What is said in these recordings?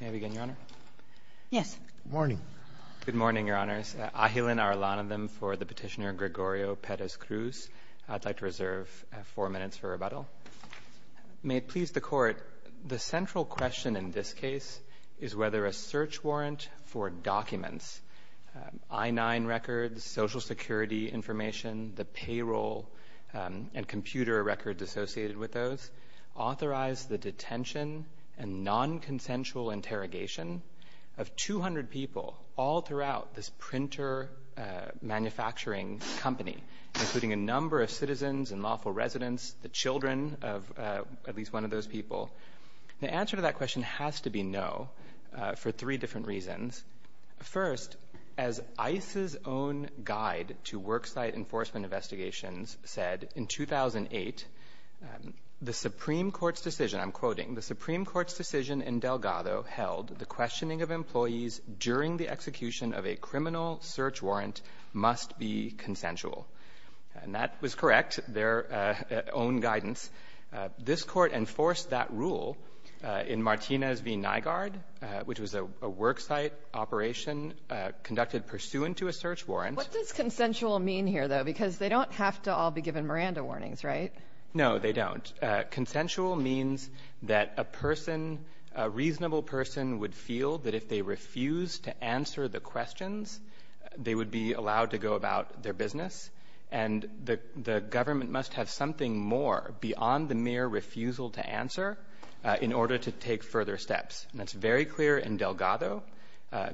May I begin, Your Honor? Yes. Good morning. Good morning, Your Honors. Ahilan Arulanantham for the petitioner Gregorio Perez Cruz. I'd like to reserve four minutes for rebuttal. May it please the Court, the central question in this case is whether a search warrant for documents, I-9 records, Social Security information, the payroll and computer records associated with those, authorized the detention and non-consensual interrogation of 200 people all throughout this printer manufacturing company, including a number of citizens and lawful residents, the children of at least one of those people. The answer to that question has to be no for three different reasons. First, as ICE's own guide to worksite enforcement investigations said in 2008, the Supreme Court's decision, I'm quoting, the Supreme Court's decision in Delgado held the questioning of employees during the execution of a criminal search warrant must be consensual. And that was correct, their own guidance. This Court enforced that rule in Martinez v. Nygaard, which was a worksite operation conducted pursuant to a search warrant. What does consensual mean here, though? Because they don't have to all be given Miranda warnings, right? No, they don't. Consensual means that a person, a reasonable person would feel that if they refused to answer the questions, they would be allowed to go about their business. And the government must have something more beyond the mere refusal to answer in order to take further steps. And that's very clear in Delgado.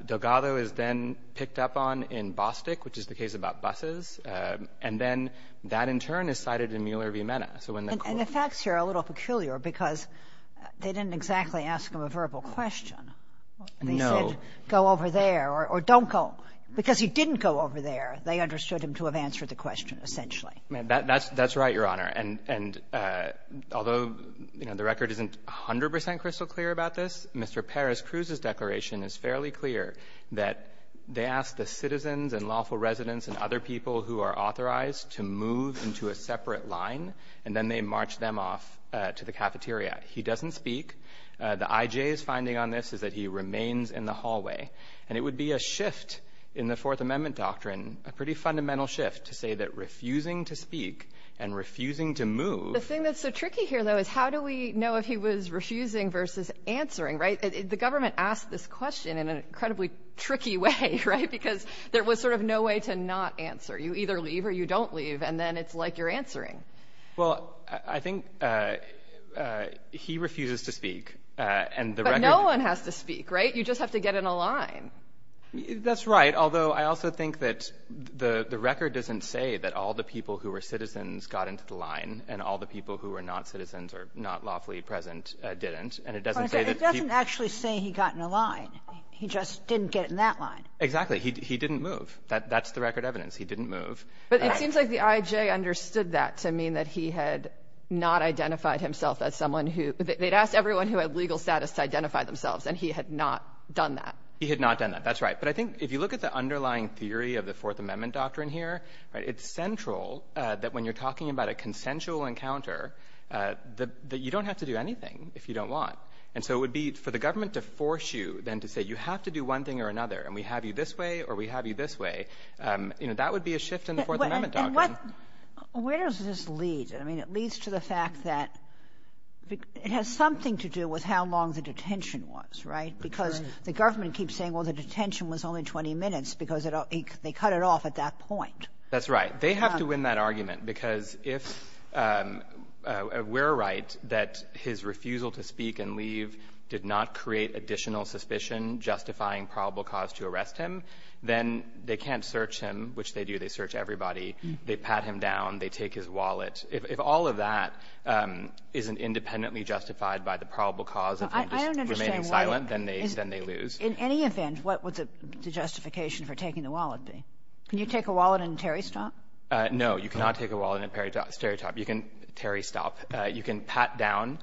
Delgado is then picked up on in Bostik, which is the case about buses. And then that, in turn, is cited in Mueller v. Mena. And the facts here are a little peculiar because they didn't exactly ask him a verbal question. No. They said, go over there, or don't go. Because he didn't go over there. They understood him to have answered the question, essentially. That's right, Your Honor. And although, you know, the record isn't 100 percent crystal clear about this, Mr. Perez-Cruz's declaration is fairly clear that they ask the citizens and lawful residents and other people who are authorized to move into a separate line, and then they march them off to the cafeteria. He doesn't speak. The I.J.'s finding on this is that he remains in the hallway. And it would be a shift in the Fourth Amendment doctrine, a pretty fundamental shift, to say that refusing to speak and refusing to move — The thing that's so tricky here, though, is how do we know if he was refusing versus answering, right? The government asked this question in an incredibly tricky way, right? Because there was sort of no way to not answer. You either leave or you don't leave, and then it's like you're answering. Well, I think he refuses to speak. And the record — But no one has to speak, right? You just have to get in a line. That's right, although I also think that the record doesn't say that all the people who were citizens got into the line and all the people who were not citizens or not lawfully present didn't. And it doesn't say that he — But it doesn't actually say he got in a line. He just didn't get in that line. Exactly. He didn't move. That's the record evidence. He didn't move. But it seems like the I.J. understood that to mean that he had not identified themselves, and he had not done that. He had not done that. That's right. But I think if you look at the underlying theory of the Fourth Amendment doctrine here, right, it's central that when you're talking about a consensual encounter, that you don't have to do anything if you don't want. And so it would be for the government to force you then to say you have to do one thing or another, and we have you this way or we have you this way, you know, that would be a shift in the Fourth Amendment doctrine. And what — where does this lead? I mean, it leads to the fact that it has something to do with how long the detention was, right? Because the government keeps saying, well, the detention was only 20 minutes because they cut it off at that point. That's right. They have to win that argument because if we're right that his refusal to speak and leave did not create additional suspicion justifying probable cause to arrest him, then they can't search him, which they do. They search everybody. They pat him down. They take his wallet. If all of that isn't independently justified by the probable cause of him just remaining silent, then they — then they lose. Kagan. In any event, what would the justification for taking the wallet be? Can you take a wallet and tear his top? No. You cannot take a wallet and tear his top. You can tear his top. You can pat down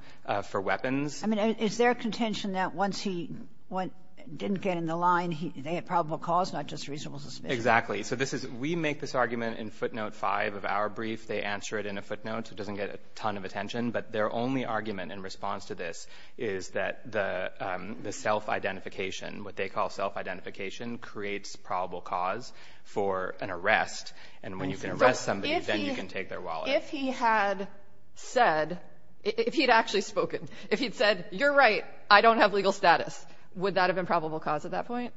for weapons. I mean, is there contention that once he went — didn't get in the line, they had probable cause, not just reasonable suspicion? Exactly. So this is — we make this argument in footnote 5 of our brief. They answer it in a footnote. It doesn't get a ton of attention. But their only argument in response to this is that the self-identification, what they call self-identification, creates probable cause for an arrest. And when you can arrest somebody, then you can take their wallet. If he had said — if he had actually spoken, if he had said, you're right, I don't have legal status, would that have been probable cause at that point?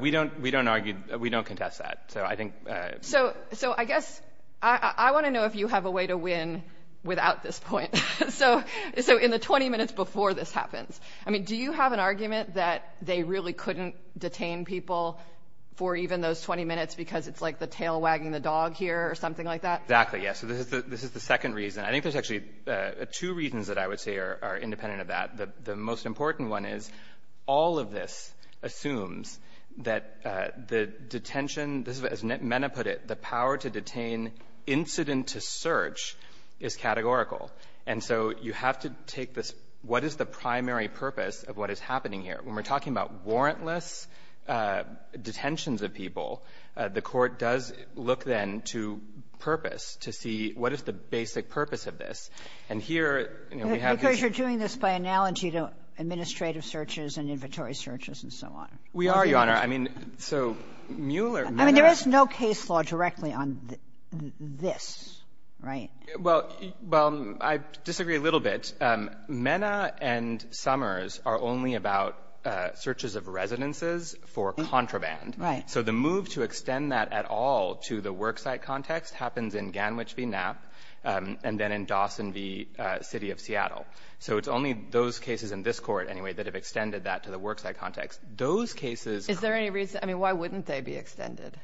We don't — we don't argue — we don't contest that. So I think — So I guess — I want to know if you have a way to win without this point. So in the 20 minutes before this happens, I mean, do you have an argument that they really couldn't detain people for even those 20 minutes because it's like the tail wagging the dog here or something like that? Exactly, yes. So this is the second reason. I think there's actually two reasons that I would say are independent of that. The most important one is all of this put it, the power to detain incident to search is categorical. And so you have to take this, what is the primary purpose of what is happening here? When we're talking about warrantless detentions of people, the Court does look then to purpose to see what is the basic purpose of this. And here, you know, we have this — Because you're doing this by analogy to administrative searches and inventory searches and so on. We are, Your Honor. I mean, so Mueller — I mean, there is no case law directly on this, right? Well, I disagree a little bit. MENA and Summers are only about searches of residences for contraband. Right. So the move to extend that at all to the worksite context happens in Ganwich v. Knapp and then in Dawson v. City of Seattle. So it's only those cases in this Is there any reason? I mean, why wouldn't they be extended?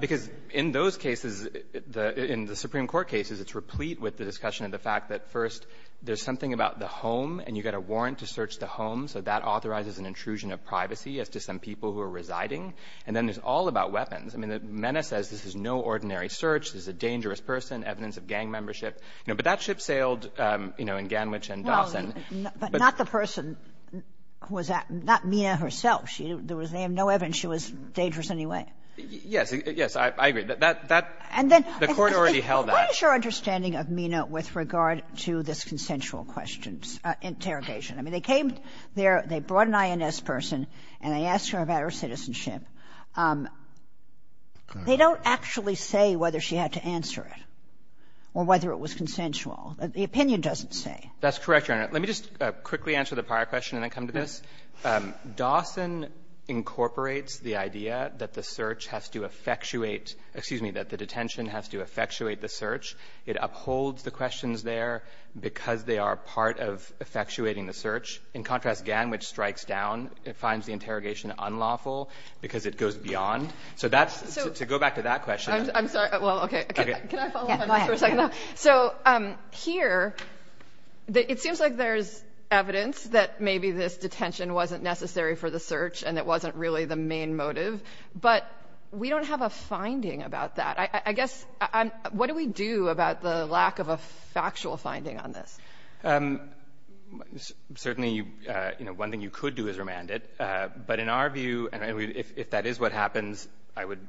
Because in those cases, the — in the Supreme Court cases, it's replete with the discussion of the fact that, first, there's something about the home, and you've got a warrant to search the home, so that authorizes an intrusion of privacy as to some people who are residing. And then it's all about weapons. I mean, MENA says this is no ordinary search. This is a dangerous person, evidence of gang membership. You know, but that ship sailed, you know, in Ganwich and Dawson. But not the person who was at — not MENA herself. There was — they have no evidence she was dangerous in any way. Yes. Yes, I agree. That — that — And then — The Court already held that. What is your understanding of MENA with regard to this consensual questions — interrogation? I mean, they came there, they brought an INS person, and they asked her about her citizenship. They don't actually say whether she had to answer it or whether it was consensual. The opinion doesn't say. That's correct, Your Honor. Let me just quickly answer the prior question and then come to this. Dawson incorporates the idea that the search has to effectuate — excuse me, that the detention has to effectuate the search. It upholds the questions there because they are part of effectuating the search. In contrast, Ganwich strikes down. It finds the interrogation unlawful because it goes beyond. So that's — So — To go back to that question — I'm sorry. Well, okay. Okay. Can I follow up on that for a second? Yeah, go ahead. So here, it seems like there's evidence that maybe this detention wasn't necessary for the search and it wasn't really the main motive, but we don't have a finding about that. I guess — what do we do about the lack of a factual finding on this? Certainly, you know, one thing you could do is remand it. But in our view — and if that is what happens, I would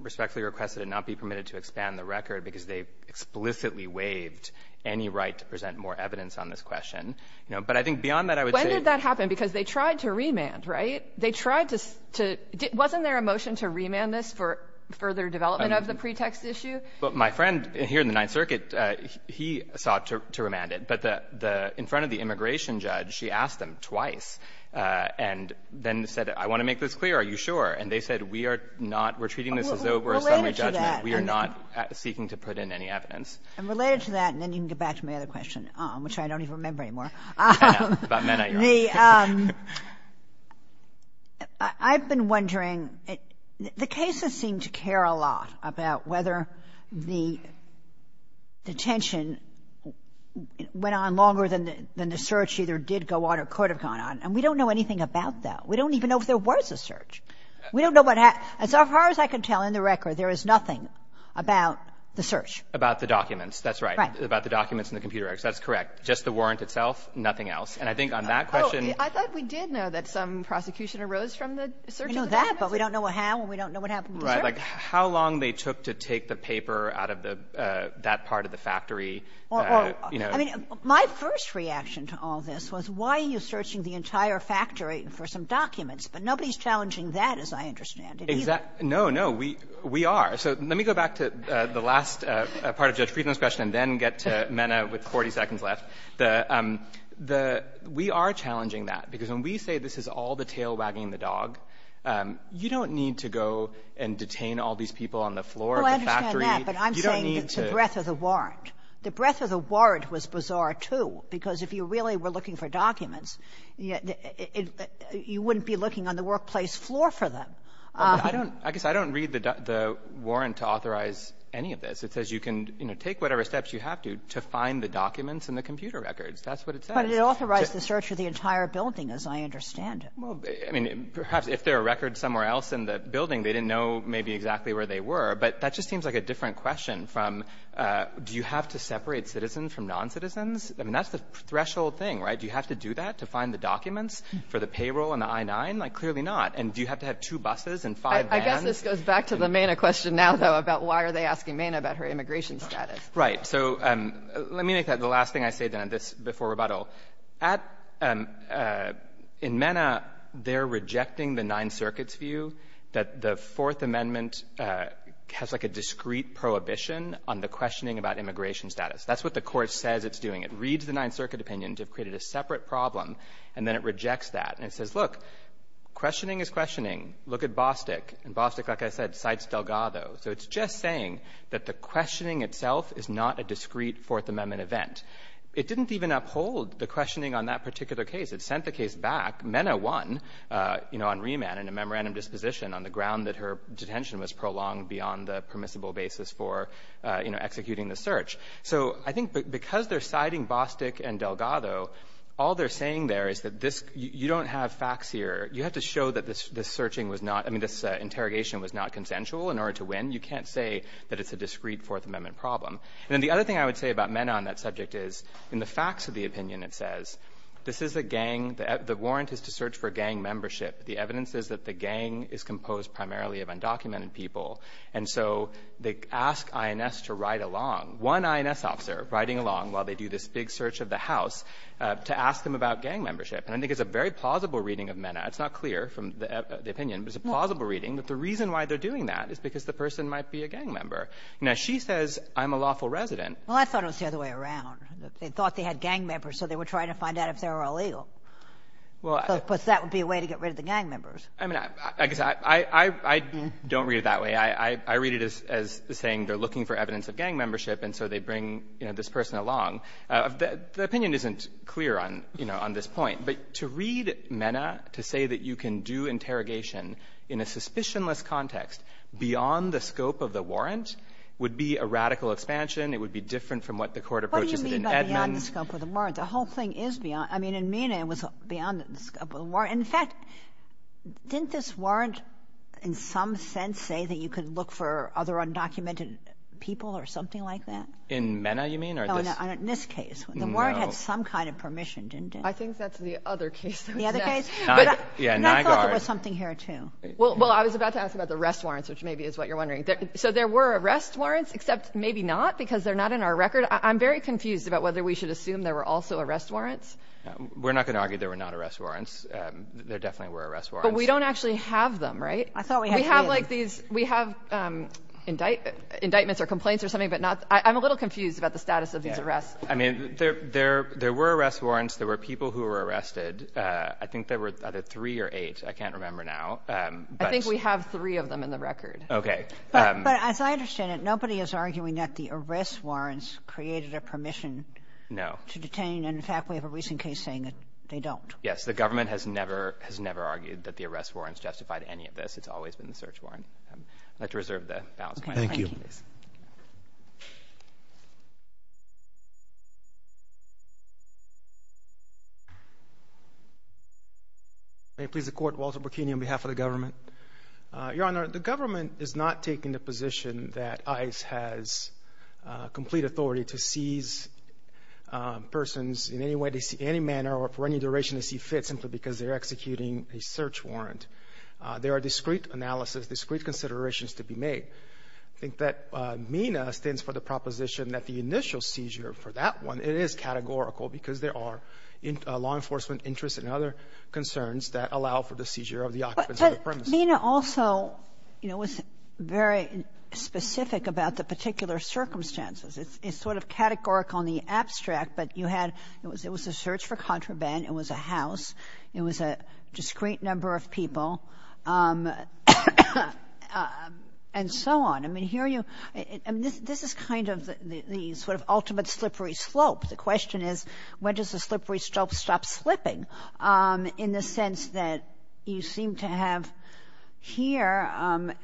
respectfully request that it not be permitted to expand the record because they explicitly waived any right to present more evidence on this question. But I think beyond that, I would say — When did that happen? Because they tried to remand, right? They tried to — wasn't there a motion to remand this for further development of the pretext issue? Well, my friend here in the Ninth Circuit, he sought to remand it. But the — in front of the immigration judge, she asked him twice and then said, I want to make this clear, are you sure? And they said, we are not — we're treating this as though we're a summary judgment. We are not seeking to put in any evidence. And related to that, and then you can get back to my other question, which I don't even remember anymore. I know. About MENA, you're on. The — I've been wondering, the cases seem to care a lot about whether the detention went on longer than the search either did go on or could have gone on. And we don't know anything about that. We don't even know if there was a search. We don't know what happened. As far as I can tell in the record, there is nothing about the search. About the documents. That's right. Right. About the documents and the computer records. That's correct. Just the warrant itself, nothing else. And I think on that question — Oh, I thought we did know that some prosecution arose from the search. We know that, but we don't know how and we don't know what happened with the search. Right. Like, how long they took to take the paper out of the — that part of the factory that, you know — Well, I mean, my first reaction to all this was, why are you searching the entire factory for some documents? But nobody's challenging that, as I understand it, either. No, no. We are. So let me go back to the last part of Judge Friedman's question and then get to Mena with 40 seconds left. The — the — we are challenging that, because when we say this is all the tail wagging the dog, you don't need to go and detain all these people on the floor of the factory. You don't need to — Oh, I understand that, but I'm saying the breadth of the warrant. The breadth of the warrant was bizarre, too, because if you really were looking for documents, you wouldn't be looking on the workplace floor for them. I don't — I guess I don't read the warrant to authorize any of this. It says you can, you know, take whatever steps you have to to find the documents and the computer records. That's what it says. But it authorized the search of the entire building, as I understand it. Well, I mean, perhaps if there are records somewhere else in the building, they didn't know maybe exactly where they were, but that just seems like a different question from, do you have to separate citizens from noncitizens? I mean, that's the threshold thing, right? Do you have to do that to find the documents for the payroll and the I-9? Like, clearly not. And do you have to have two buses and five vans? I guess this goes back to the Mena question now, though, about why are they asking Mena about her immigration status. Right. So let me make that the last thing I say, then, on this before rebuttal. At — in Mena, they're rejecting the Ninth Circuit's view that the Fourth Amendment has, like, a discrete prohibition on the questioning about immigration status. That's what the Court says it's doing. It reads the Ninth Circuit opinion to have created a separate problem, and then it rejects that. And it says, look, questioning is questioning. Look at Bostick. And Bostick, like I said, cites Delgado. So it's just saying that the questioning itself is not a discrete Fourth Amendment event. It didn't even uphold the questioning on that particular case. It sent the case back. Mena won, you know, on remand in a memorandum disposition on the ground that her detention was prolonged beyond the permissible basis for, you know, executing the search. So I think because they're citing Bostick and Delgado, all they're saying there is that this — you don't have facts here. You have to show that this searching was not — I mean, this interrogation was not consensual in order to win. You can't say that it's a discrete Fourth Amendment problem. And then the other thing I would say about Mena on that subject is, in the facts of the opinion, it says, this is a gang. The warrant is to search for gang membership. The evidence is that the gang is composed primarily of undocumented people. And so they ask INS to ride along. One INS officer riding along while they do this big search of the house to ask them about gang membership. And I think it's a very plausible reading of Mena. It's not clear from the opinion, but it's a plausible reading that the reason why they're doing that is because the person might be a gang member. Now, she says, I'm a lawful resident. Well, I thought it was the other way around. They thought they had gang members, so they were trying to find out if they were illegal. Well, I — Because that would be a way to get rid of the gang members. I mean, I guess I — I don't read it that way. I read it as saying they're looking for evidence of gang membership, and so they bring, you know, this person along. The opinion isn't clear on — you know, on this point. But to read Mena to say that you can do interrogation in a suspicionless context beyond the scope of the warrant would be a radical expansion. It would be different from what the Court approaches in Edmonds. What do you mean by beyond the scope of the warrant? The whole thing is beyond — I mean, in Mena, it was beyond the scope of the warrant. In fact, didn't this warrant in some sense say that you could look for other undocumented people or something like that? In Mena, you mean? No, in this case. No. The warrant had some kind of permission, didn't it? I think that's the other case. The other case? Yeah, Nygaard. And I thought there was something here, too. Well, I was about to ask about the arrest warrants, which maybe is what you're wondering. So there were arrest warrants, except maybe not because they're not in our record. I'm very confused about whether we should assume there were also arrest warrants. We're not going to argue there were not arrest warrants. There definitely were arrest warrants. But we don't actually have them, right? I thought we had three of them. We have like these — we have indictments or complaints or something, but not — I'm a little confused about the status of these arrests. I mean, there were arrest warrants. There were people who were arrested. I think there were either three or eight. I can't remember now. I think we have three of them in the record. But as I understand it, nobody is arguing that the arrest warrants created a permission to detain. No. And, in fact, we have a recent case saying that they don't. Yes. The government has never — has never argued that the arrest warrants justified any of this. It's always been the search warrant. I'd like to reserve the balance of my time, please. Thank you. May it please the Court, Walter Burkini on behalf of the government. Your Honor, the government is not taking the position that ICE has complete authority to seize persons in any way they see — any manner or for any duration they see fit simply because they're executing a search warrant. There are discrete analysis, discrete considerations to be made. I think that MENA stands for the proposition that the initial seizure for that one, it is categorical because there are law enforcement interests and other concerns that allow for the seizure of the occupants of the premises. But MENA also, you know, was very specific about the particular circumstances. It's sort of categorical in the abstract, but you had — it was a search for contraband, it was a house, it was a discrete number of people, and so on. I mean, here you — I mean, this is kind of the sort of ultimate slippery slope. The question is, when does the slippery slope stop slipping in the sense that you seem to have here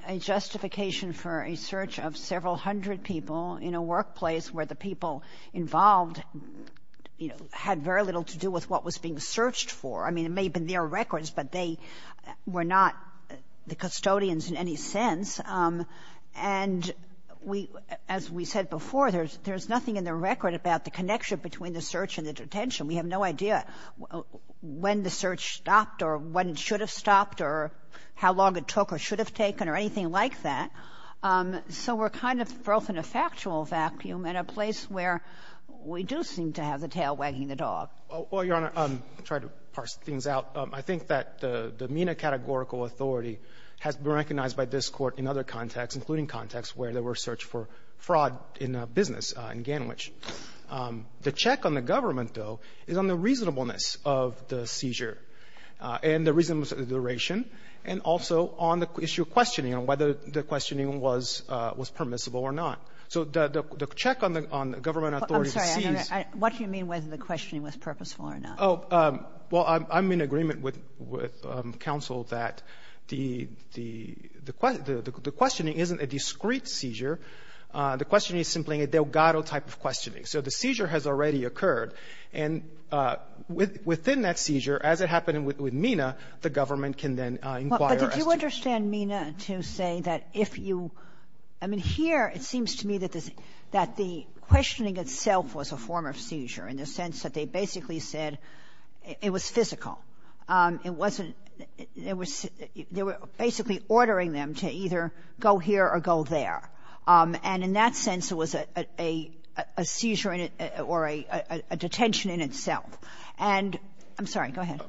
a justification for a search of several hundred people in a workplace where the people involved, you know, had very little to do with what was being searched for? I mean, it may have been their records, but they were not the custodians in any sense. And we — as we said before, there's nothing in the record about the connection between the search and the detention. We have no idea when the search stopped or when it should have stopped or how long it took or should have taken or anything like that. So we're kind of both in a factual vacuum and a place where we do seem to have the tail wagging the dog. Well, Your Honor, I'll try to parse things out. I think that the MENA categorical authority has been recognized by this Court in other contexts, including contexts where there were search for fraud in a business in Ganwich. The check on the government, though, is on the reasonableness of the seizure and the reasonableness of the duration, and also on the issue of questioning, on whether the questioning was permissible or not. So the check on the government authority sees — I'm sorry. What do you mean whether the questioning was purposeful or not? Oh, well, I'm in agreement with counsel that the questioning isn't a discrete seizure. The questioning is simply a Delgado type of questioning. So the seizure has already occurred. And within that seizure, as it happened with MENA, the government can then inquire as to — But did you understand MENA to say that if you — I mean, here it seems to me that this — that the questioning itself was a form of seizure in the sense that they basically said it was physical. It wasn't — it was — they were basically ordering them to either go here or go there. And in that sense, it was a seizure in — or a detention in itself. And — I'm sorry. Go ahead.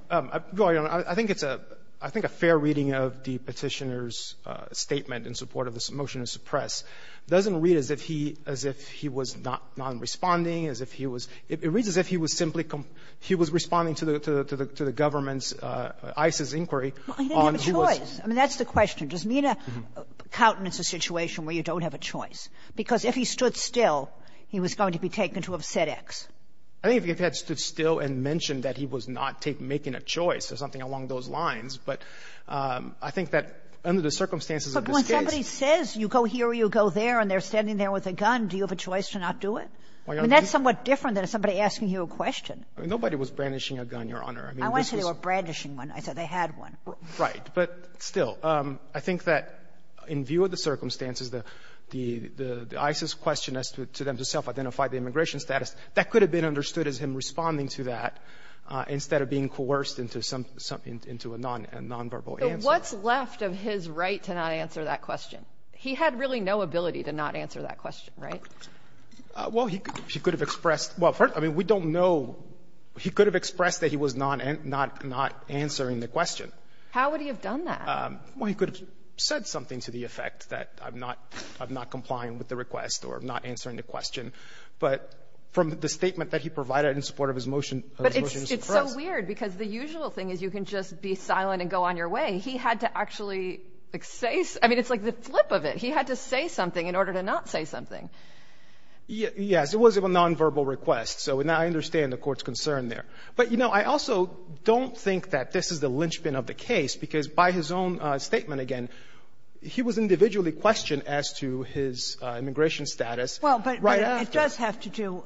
No, Your Honor. I think it's a — I think a fair reading of the Petitioner's statement in support of this motion to suppress doesn't read as if he — as if he was not responding, as if he was — it reads as if he was simply — he was responding to the — to the government's ISIS inquiry on who was — Well, he didn't have a choice. I mean, that's the question. Does MENA countenance a situation where you don't have a choice? Because if he stood still, he was going to be taken to have said X. I think if he had stood still and mentioned that he was not taking — making a choice or something along those lines, but I think that under the circumstances of this case — But when somebody says you go here or you go there and they're standing there with a gun, do you have a choice to not do it? I mean, that's somewhat different than somebody asking you a question. Nobody was brandishing a gun, Your Honor. I mean, this was — I want to say they were brandishing one. I said they had one. Right. But still, I think that in view of the circumstances, the ISIS question as to them to self-identify the immigration status, that could have been understood as him responding to that instead of being coerced into some — into a nonverbal answer. But what's left of his right to not answer that question? He had really no ability to not answer that question, right? Well, he could have expressed — well, first, I mean, we don't know — he could have expressed that he was not answering the question. How would he have done that? Well, he could have said something to the effect that I'm not complying with the request or not answering the question. But from the statement that he provided in support of his motion — But it's so weird because the usual thing is you can just be silent and go on your way. He had to actually say — I mean, it's like the flip of it. He had to say something in order to not say something. Yes. It was a nonverbal request. So I understand the Court's concern there. But, you know, I also don't think that this is the linchpin of the case because by his own statement, again, he was individually questioned as to his immigration status right after. Well, but it does have to do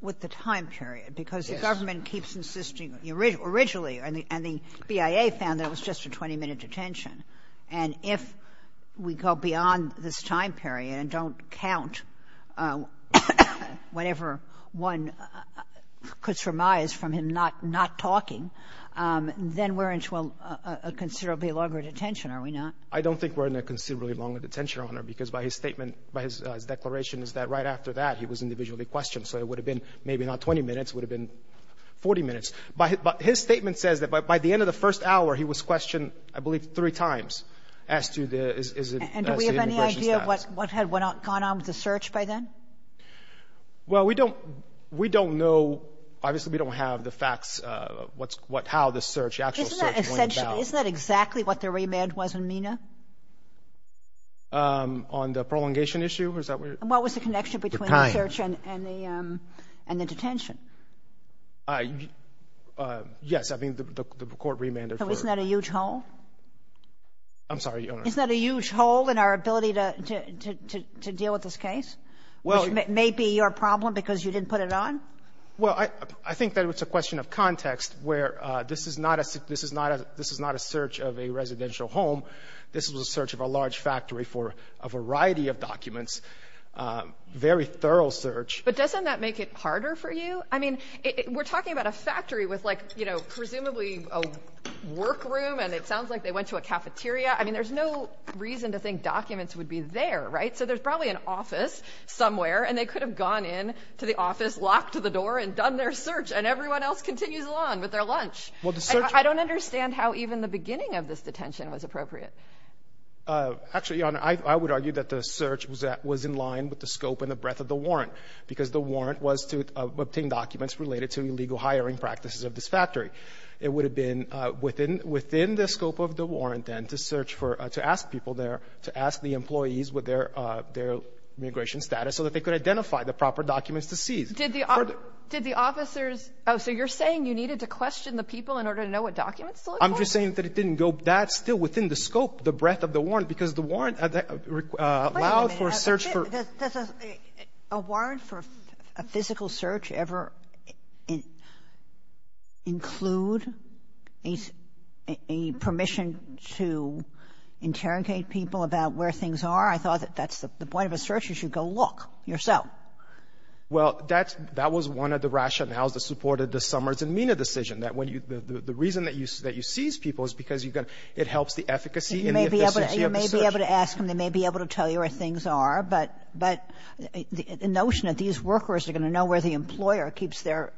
with the time period because the government keeps insisting — originally, and the BIA found that it was just a 20-minute detention. And if we go beyond this time period and don't count whatever one could surmise from him not talking, then we're in a considerably longer detention, are we not? I don't think we're in a considerably longer detention, Your Honor, because by his statement, by his declaration, is that right after that, he was individually questioned. So it would have been maybe not 20 minutes. It would have been 40 minutes. But his statement says that by the end of the first hour, he was questioned, I believe, three times as to his immigration status. And do we have any idea what had gone on with the search by then? Well, we don't know. Obviously, we don't have the facts, how the search, the actual search went about. Isn't that exactly what the remand was in MENA? On the prolongation issue? Is that where — And what was the connection between the search and the detention? Yes. I mean, the court remanded for — Isn't that a huge hole? I'm sorry, Your Honor. Isn't that a huge hole in our ability to deal with this case, which may be your problem because you didn't put it on? Well, I think that it's a question of context where this is not a search of a residential home. This was a search of a large factory for a variety of documents, very thorough search. But doesn't that make it harder for you? I mean, we're talking about a factory with, like, you know, presumably a workroom, and it sounds like they went to a cafeteria. I mean, there's no reason to think documents would be there, right? So there's probably an office somewhere, and they could have gone in to the office, locked the door, and done their search, and everyone else continues along with their lunch. Well, the search — I don't understand how even the beginning of this detention was appropriate. Actually, Your Honor, I would argue that the search was in line with the scope and the breadth of the warrant, because the warrant was to obtain documents related to illegal hiring practices of this factory. It would have been within — within the scope of the warrant, then, to search for — to ask people there, to ask the employees what their — their immigration status, so that they could identify the proper documents to seize. Did the officers — oh, so you're saying you needed to question the people in order to know what documents to look for? I'm just saying that it didn't go that — still within the scope, the breadth of the warrant, because the warrant allowed for a search for — Well, does a warrant for a physical search ever include a — a permission to interrogate people about where things are? I thought that that's the point of a search is you go look yourself. Well, that's — that was one of the rationales that supported the Summers and Mina decision, that when you — the reason that you — that you seize people is because you're going to — it helps the efficacy and the efficiency of the search. So they may be able to ask them, they may be able to tell you where things are, but — but the notion that these workers are going to know where the employer keeps their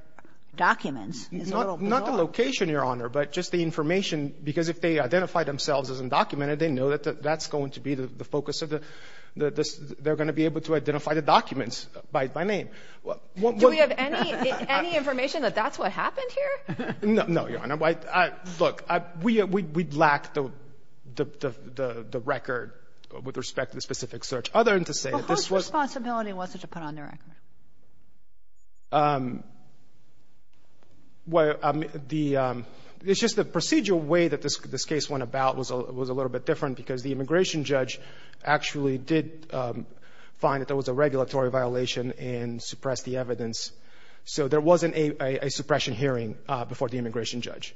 documents is a little below. Not the location, Your Honor, but just the information, because if they identify themselves as undocumented, they know that that's going to be the focus of the — they're going to be able to identify the documents by name. Do we have any — any information that that's what happened here? No, Your Honor. Look, we — we lack the — the record with respect to the specific search. Other than to say that this was — But whose responsibility was it to put on the record? Well, the — it's just the procedural way that this case went about was a little bit different because the immigration judge actually did find that there was a regulatory violation and suppressed the evidence. So there wasn't a suppression hearing before the immigration judge.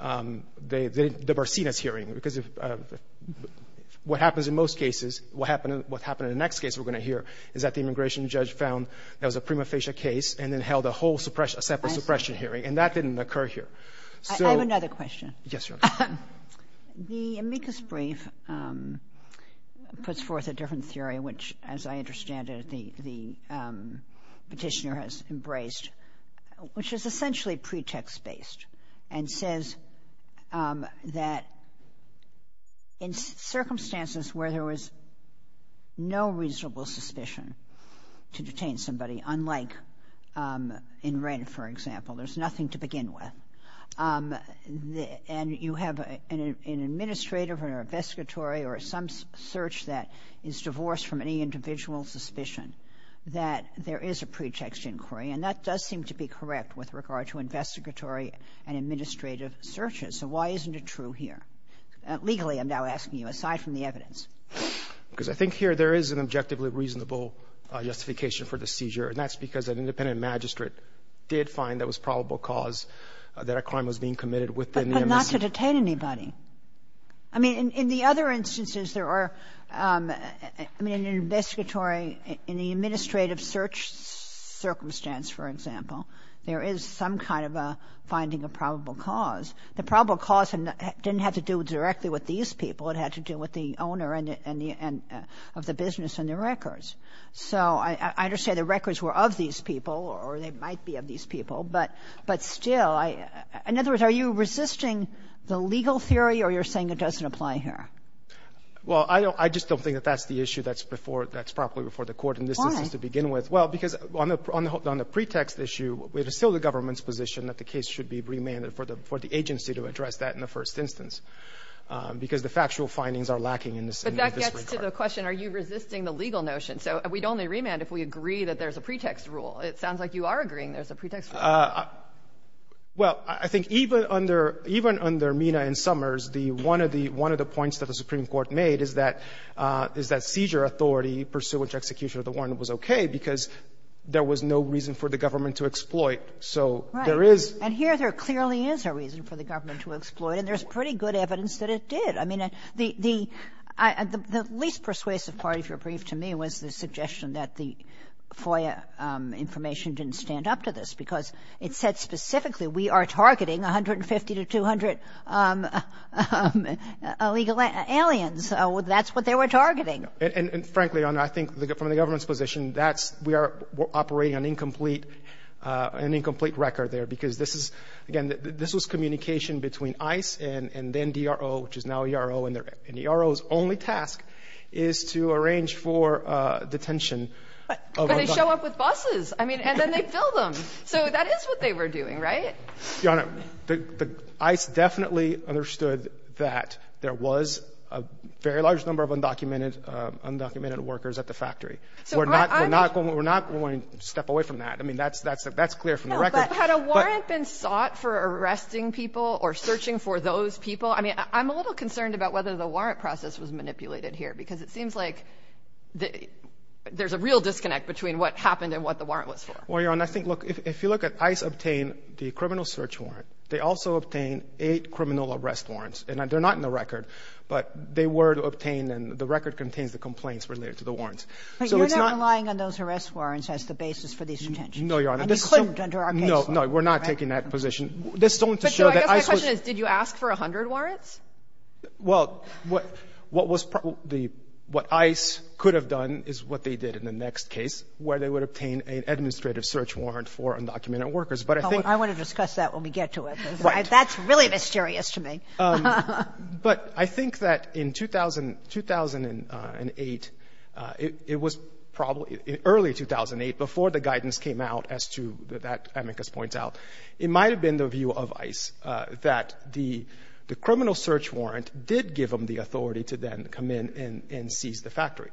They didn't — the Barcenas hearing, because if — what happens in most cases, what happened — what happened in the next case we're going to hear is that the immigration judge found there was a prima facie case and then held a whole suppression — a separate suppression hearing, and that didn't occur here. So — I have another question. Yes, Your Honor. The amicus brief puts forth a different theory, which, as I understand it, the petitioner has embraced, which is essentially pretext-based and says that in circumstances where there was no reasonable suspicion to detain somebody, unlike in And you have an administrative or an investigatory or some search that is divorced from any individual suspicion that there is a pretext inquiry. And that does seem to be correct with regard to investigatory and administrative searches. So why isn't it true here? Legally, I'm now asking you, aside from the evidence. Because I think here there is an objectively reasonable justification for the seizure, and that's because an independent magistrate did find there was probable cause that a crime was being committed within the amicus. But not to detain anybody. I mean, in the other instances, there are — I mean, in an investigatory — in the administrative search circumstance, for example, there is some kind of a finding of probable cause. The probable cause didn't have to do directly with these people. It had to do with the owner and the — of the business and the records. So I understand the records were of these people, or they might be of these people. But still, I — in other words, are you resisting the legal theory, or you're saying it doesn't apply here? Well, I don't — I just don't think that that's the issue that's before — that's probably before the Court in this instance to begin with. Why? Well, because on the pretext issue, it is still the government's position that the case should be remanded for the agency to address that in the first instance, because the factual findings are lacking in this regard. So to answer the question, are you resisting the legal notion? So we'd only remand if we agree that there's a pretext rule. It sounds like you are agreeing there's a pretext rule. Well, I think even under — even under Mina and Summers, the — one of the — one of the points that the Supreme Court made is that — is that seizure authority pursuant to execution of the warrant was okay, because there was no reason for the government to exploit. So there is — Right. And here there clearly is a reason for the government to exploit, and there's pretty good evidence that it did. I mean, the — the least persuasive part, if you're brief to me, was the suggestion that the FOIA information didn't stand up to this, because it said specifically we are targeting 150 to 200 illegal aliens. That's what they were targeting. And frankly, Your Honor, I think from the government's position, that's — we are operating an incomplete — an incomplete record there, because this is — again, this was communication between ICE and then DRO, which is now ERO. And the ERO's only task is to arrange for detention of undocumented — But they show up with buses. I mean, and then they fill them. So that is what they were doing, right? Your Honor, ICE definitely understood that there was a very large number of undocumented — undocumented workers at the factory. So we're not — we're not going to step away from that. I mean, that's — that's clear from the record. Had a warrant been sought for arresting people or searching for those people? I mean, I'm a little concerned about whether the warrant process was manipulated here, because it seems like there's a real disconnect between what happened and what the warrant was for. Well, Your Honor, I think — look, if you look at — ICE obtained the criminal search warrant. They also obtained eight criminal arrest warrants. And they're not in the record, but they were obtained, and the record contains the complaints related to the warrants. So it's not — But you're not relying on those arrest warrants as the basis for these detentions. No, Your Honor. And you couldn't under our case law, right? No. No, we're not taking that position. This is only to show that ICE was — But, Joe, I guess my question is, did you ask for 100 warrants? Well, what — what was — the — what ICE could have done is what they did in the next case, where they would obtain an administrative search warrant for undocumented workers. But I think — I want to discuss that when we get to it. Right. That's really mysterious to me. But I think that in 2000 — 2008, it was probably — in early 2008, before the guidance came out as to that Amicus points out, it might have been the view of ICE that the criminal search warrant did give them the authority to then come in and seize the factory,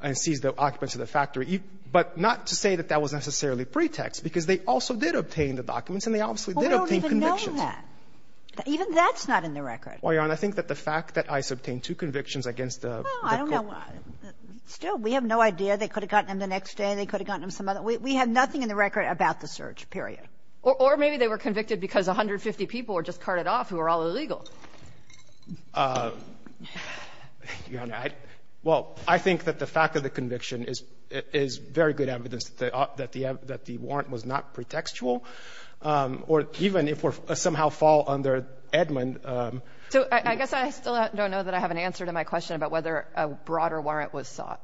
and seize the occupants of the factory. But not to say that that was necessarily pretext, because they also did obtain the documents, and they obviously did obtain convictions. Well, we don't even know that. Even that's not in the record. Well, Your Honor, I think that the fact that ICE obtained two convictions against the — Well, I don't know. Still, we have no idea. They could have gotten them the next day. They could have gotten them some other — we have nothing in the record about the search, period. Or maybe they were convicted because 150 people were just carted off who were all illegal. Your Honor, I — well, I think that the fact of the conviction is — is very good evidence that the — that the warrant was not pretextual. Or even if we somehow fall under Edmund — So I guess I still don't know that I have an answer to my question about whether a broader warrant was sought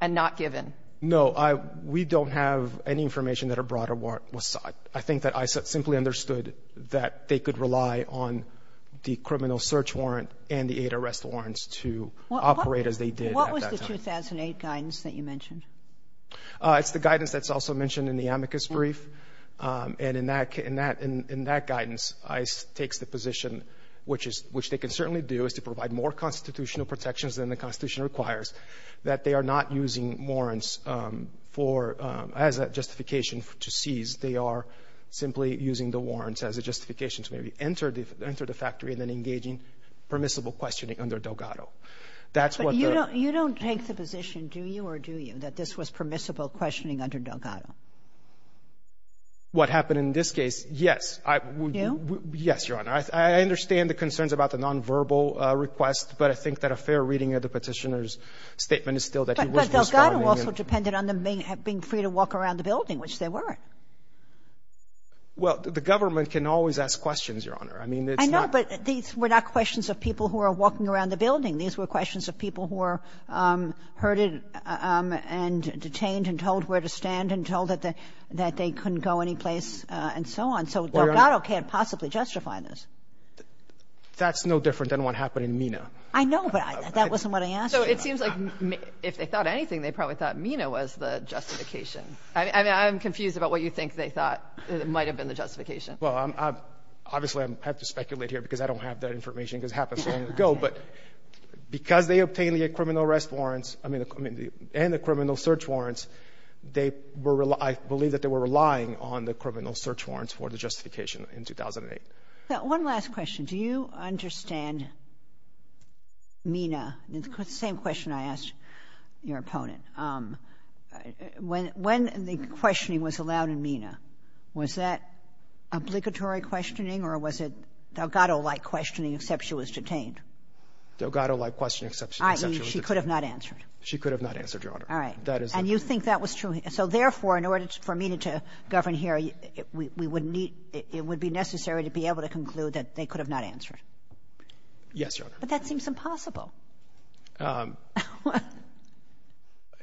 and not given. No. We don't have any information that a broader warrant was sought. I think that ICE simply understood that they could rely on the criminal search warrant and the eight arrest warrants to operate as they did at that time. What was the 2008 guidance that you mentioned? It's the guidance that's also mentioned in the amicus brief. And in that — in that guidance, ICE takes the position, which is — which they can certainly do, is to provide more constitutional protections than the Constitution requires, that they are not using warrants for — as a justification to seize. They are simply using the warrants as a justification to maybe enter the — enter the factory and then engaging permissible questioning under Delgado. That's what the — But you don't — you don't take the position, do you or do you, that this was permissible You? Yes, Your Honor. I understand the concerns about the nonverbal request, but I think that a fair reading of the Petitioner's statement is still that he was responding in — But Delgado also depended on them being free to walk around the building, which they weren't. Well, the government can always ask questions, Your Honor. I mean, it's not — I know, but these were not questions of people who were walking around the building. These were questions of people who were herded and detained and told where to stand and told that they couldn't go anyplace and so on. So Delgado can't possibly justify this. That's no different than what happened in MENA. I know, but that wasn't what I asked you. So it seems like if they thought anything, they probably thought MENA was the justification. I mean, I'm confused about what you think they thought might have been the justification. Well, obviously, I have to speculate here because I don't have that information because it happened so long ago. But because they obtained the criminal arrest warrants — I mean, and the criminal search warrants, they were — I believe that they were relying on the criminal search warrants for the justification in 2008. Now, one last question. Do you understand MENA? It's the same question I asked your opponent. When the questioning was allowed in MENA, was that obligatory questioning or was it Delgado-like questioning except she was detained? Delgado-like questioning except she was detained. She could have not answered. She could have not answered, Your Honor. All right. And you think that was true. So therefore, in order for MENA to govern here, we would need — it would be necessary to be able to conclude that they could have not answered. Yes, Your Honor. But that seems impossible.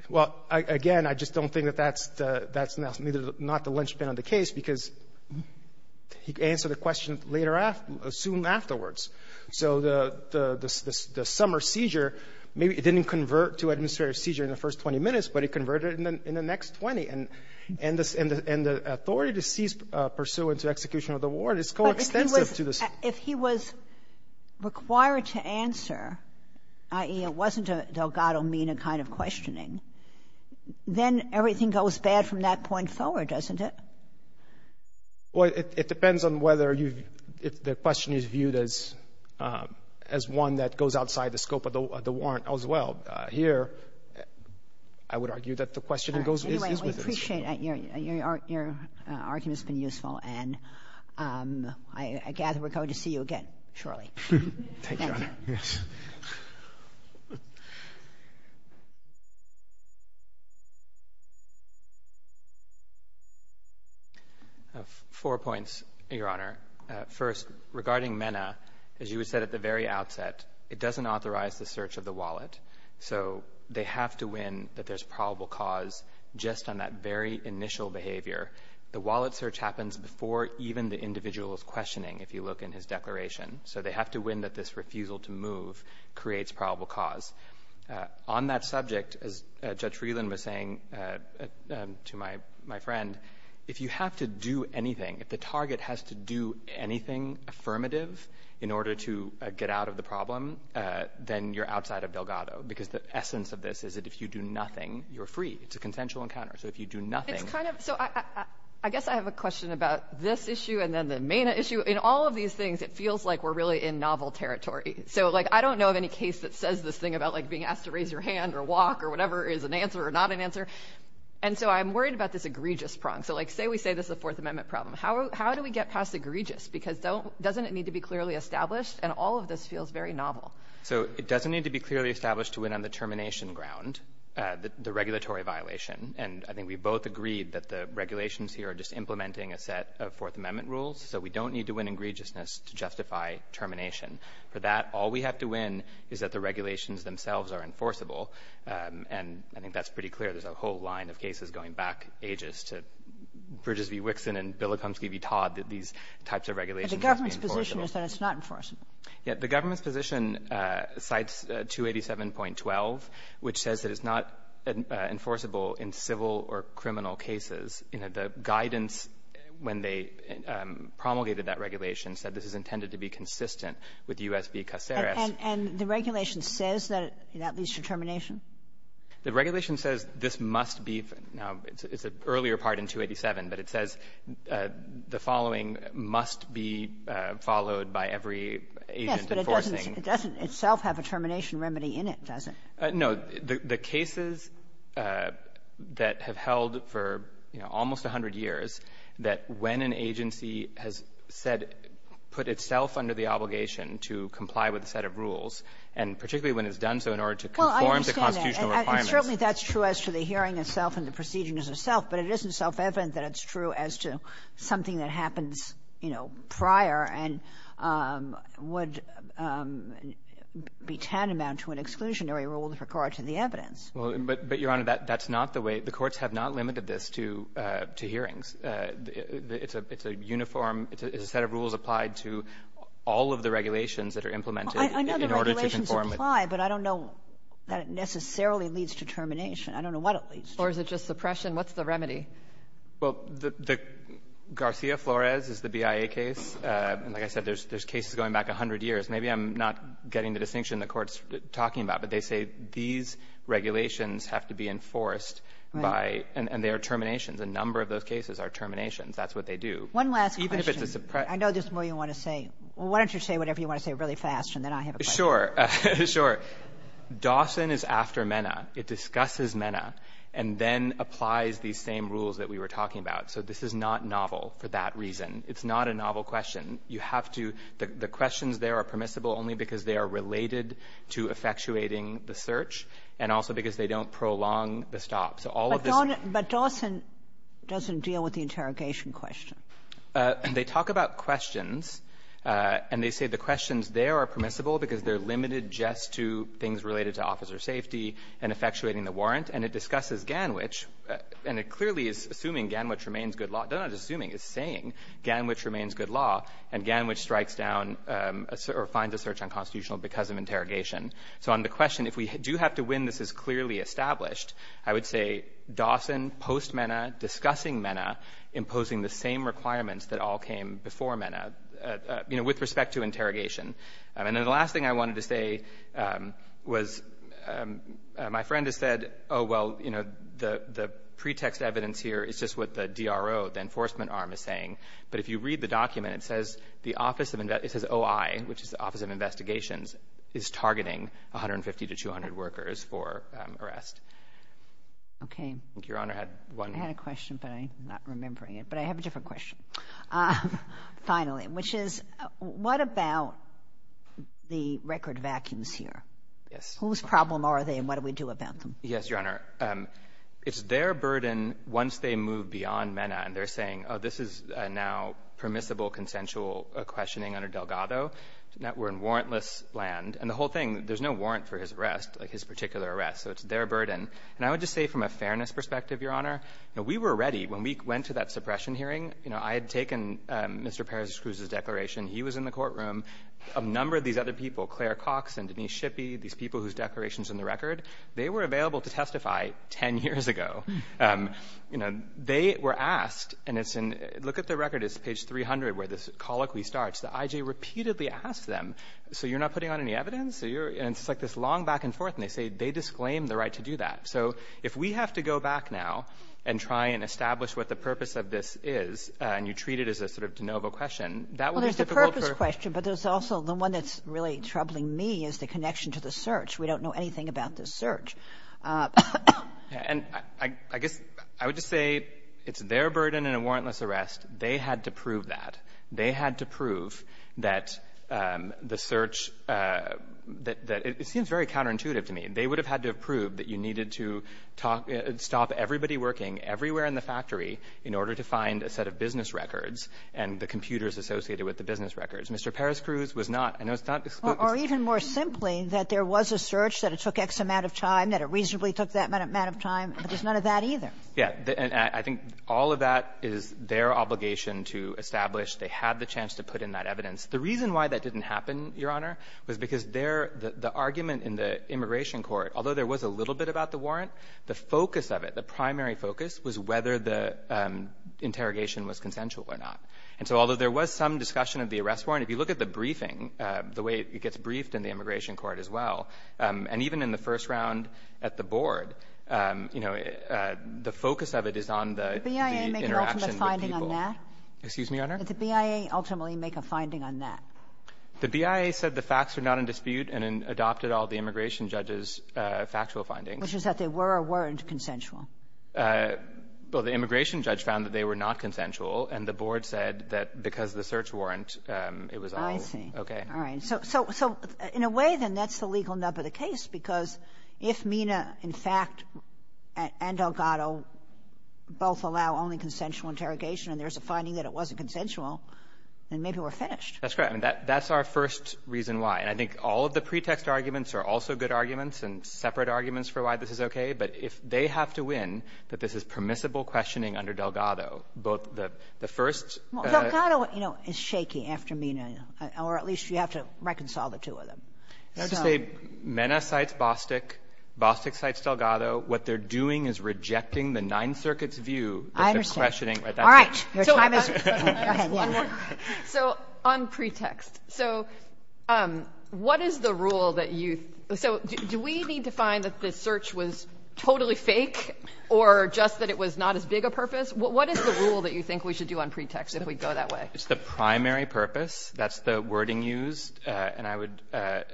Well, again, I just don't think that that's the — that's not the linchpin of the case because he could answer the question later after — soon afterwards. So the summer seizure, maybe it didn't convert to administrative seizure in the first 20 minutes, but it converted in the next 20. And the authority to cease pursuant to execution of the warrant is coextensive to the — But if he was — if he was required to answer, i.e., it wasn't a Delgado-MENA kind of questioning, then everything goes bad from that point forward, doesn't it? Well, it depends on whether you've — if the question is viewed as one that goes outside the scope of the warrant as well. Here, I would argue that the question goes — is within the scope. Anyway, we appreciate — your argument has been useful. And I gather we're going to see you again shortly. Thank you, Your Honor. Thank you. Yes. Four points, Your Honor. First, regarding MENA, as you had said at the very outset, it doesn't authorize the search of the wallet. So they have to win that there's probable cause just on that very initial behavior. The wallet search happens before even the individual is questioning, if you look in his declaration. So they have to win that this refusal to move creates probable cause. On that subject, as Judge Freeland was saying to my friend, if you have to do anything, if the target has to do anything affirmative in order to get out of the problem, then you're outside of Delgado. Because the essence of this is that if you do nothing, you're free. It's a consensual encounter. So if you do nothing — It's kind of — so I guess I have a question about this issue and then the MENA issue. In all of these things, it feels like we're really in novel territory. So, like, I don't know of any case that says this thing about, like, being asked to raise your hand or walk or whatever is an answer or not an answer. And so I'm worried about this egregious prong. So, like, say we say this is a Fourth Amendment problem. How do we get past egregious? Because doesn't it need to be clearly established? And all of this feels very novel. So it doesn't need to be clearly established to win on the termination ground, the regulatory violation. And I think we both agreed that the regulations here are just implementing a set of Fourth Amendment rules. So we don't need to win egregiousness to justify termination. For that, all we have to win is that the regulations themselves are enforceable. And I think that's pretty clear. There's a whole line of cases going back ages to Bridges v. Wixson and Bilikomsky v. Todd, that these types of regulations must be enforceable. But the government's position is that it's not enforceable. Yeah. The government's position cites 287.12, which says that it's not enforceable in civil or criminal cases. And the regulation says that it leads to termination? The regulation says this must be. Now, it's an earlier part in 287, but it says the following must be followed by every agent enforcing. Yes, but it doesn't itself have a termination remedy in it, does it? No. The cases that have held for, you know, almost 100 years, that when an agency has said, put itself under the obligation to comply with a set of rules, and particularly when it's done so in order to conform to constitutional requirements. Well, I understand that. And certainly that's true as to the hearing itself and the procedures itself. But it isn't self-evident that it's true as to something that happens, you know, prior and would be tantamount to an exclusionary rule with regard to the evidence. Well, but, Your Honor, that's not the way. The courts have not limited this to hearings. It's a uniform – it's a set of rules applied to all of the regulations that are implemented in order to conform. I know the regulations apply, but I don't know that it necessarily leads to termination. I don't know what it leads to. Or is it just suppression? What's the remedy? Well, the Garcia-Flores is the BIA case. And like I said, there's cases going back 100 years. Maybe I'm not getting the distinction the Court's talking about, but they say these regulations have to be enforced by – and they are terminations. A number of those cases are terminations. That's what they do. One last question. Even if it's a – I know there's more you want to say. Why don't you say whatever you want to say really fast, and then I have a question. Sure. Sure. Dawson is after Mena. It discusses Mena and then applies these same rules that we were talking about. So this is not novel for that reason. It's not a novel question. You have to – the questions there are permissible only because they are related to effectuating the search and also because they don't prolong the stop. So all of this – But Dawson doesn't deal with the interrogation question. They talk about questions, and they say the questions there are permissible because they're limited just to things related to officer safety and effectuating the warrant. And it discusses Ganwich, and it clearly is assuming Ganwich remains good law. It's not assuming. It's saying Ganwich remains good law, and Ganwich strikes down or finds a search unconstitutional because of interrogation. So on the question, if we do have to win, this is clearly established, I would say Dawson, post-Mena, discussing Mena, imposing the same requirements that all came before Mena, you know, with respect to interrogation. And then the last thing I wanted to say was my friend has said, oh, well, you know, the pretext evidence here is just what the DRO, the enforcement arm, is saying. But if you read the document, it says the Office of – it says OI, which is the Office of Investigations, is targeting 150 to 200 workers for arrest. Okay. I think Your Honor had one. I had a question, but I'm not remembering it. But I have a different question, finally, which is, what about the record vacuums here? Yes. Whose problem are they, and what do we do about them? Yes, Your Honor. It's their burden, once they move beyond Mena and they're saying, oh, this is now permissible, consensual questioning under Delgado. Now we're in warrantless land. And the whole thing, there's no warrant for his arrest, like his particular arrest. So it's their burden. And I would just say from a fairness perspective, Your Honor, you know, we were ready when we went to that suppression hearing. You know, I had taken Mr. Perez-Cruz's declaration. He was in the courtroom. A number of these other people, Claire Cox and Denise Shippey, these people whose declaration is in the record, they were available to testify 10 years ago. You know, they were asked, and it's in – look at the record. It's page 300 where this colloquy starts. The IJ repeatedly asks them, so you're not putting on any evidence? And it's like this long back and forth, and they say they disclaim the right to do that. So if we have to go back now and try and establish what the purpose of this is, and you treat it as a sort of de novo question, that would be difficult for – Well, there's the purpose question, but there's also the one that's really troubling me is the connection to the search. We don't know anything about this search. And I guess I would just say it's their burden in a warrantless arrest. They had to prove that. They had to prove that the search – that it seems very counterintuitive to me. They would have had to have proved that you needed to talk – stop everybody working everywhere in the factory in order to find a set of business records and the computers associated with the business records. Mr. Perez-Cruz was not. I know it's not explicit. Or even more simply, that there was a search, that it took X amount of time, that it reasonably took that amount of time. There's none of that either. Yeah. And I think all of that is their obligation to establish they had the chance to put in that evidence. The reason why that didn't happen, Your Honor, was because their – the argument in the immigration court, although there was a little bit about the warrant, the focus of it, the primary focus, was whether the interrogation was consensual or not. And so although there was some discussion of the arrest warrant, if you look at the evidence briefed in the immigration court as well, and even in the first round at the board, you know, the focus of it is on the interaction with people. Did the BIA make an ultimate finding on that? Excuse me, Your Honor? Did the BIA ultimately make a finding on that? The BIA said the facts were not in dispute and adopted all the immigration judge's factual findings. Which is that they were or weren't consensual. Well, the immigration judge found that they were not consensual, and the board said that because of the search warrant, it was all okay. All right. So in a way, then, that's the legal nub of the case, because if Mena, in fact, and Delgado both allow only consensual interrogation and there's a finding that it wasn't consensual, then maybe we're finished. That's correct. I mean, that's our first reason why. And I think all of the pretext arguments are also good arguments and separate arguments for why this is okay, but if they have to win that this is permissible questioning under Delgado, both the first and the second. But Delgado, you know, is shaky after Mena. Or at least you have to reconcile the two of them. So. Mena cites Bostick. Bostick cites Delgado. What they're doing is rejecting the Ninth Circuit's view. I understand. All right. Your time is up. Go ahead. So on pretext, so what is the rule that you so do we need to find that the search was totally fake or just that it was not as big a purpose? What is the rule that you think we should do on pretext if we go that way? It's the primary purpose. That's the wording used. And I would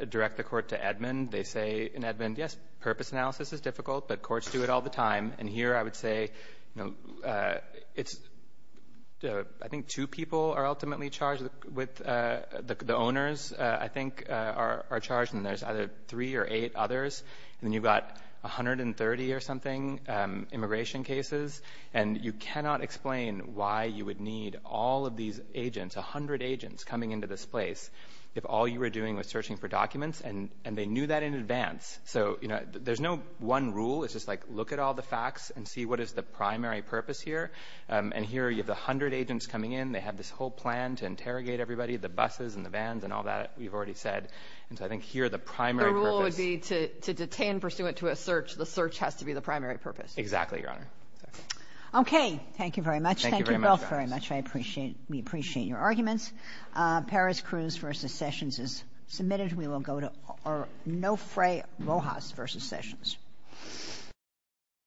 direct the Court to Edmond. They say in Edmond, yes, purpose analysis is difficult, but courts do it all the time. And here I would say, you know, it's the — I think two people are ultimately charged with — the owners, I think, are charged, and there's either three or eight others. And then you've got 130 or something immigration cases, and you cannot explain why you would need all of these agents, a hundred agents, coming into this place if all you were doing was searching for documents, and they knew that in advance. So, you know, there's no one rule. It's just like look at all the facts and see what is the primary purpose here. And here you have a hundred agents coming in. They have this whole plan to interrogate everybody, the buses and the vans and all that we've already said. And so I think here the primary purpose — If you detain pursuant to a search, the search has to be the primary purpose. Exactly, Your Honor. Okay. Thank you very much. Thank you both very much. Thank you very much. I appreciate — we appreciate your arguments. Perez-Cruz v. Sessions is submitted. We will go to Nofre Rojas v. Sessions.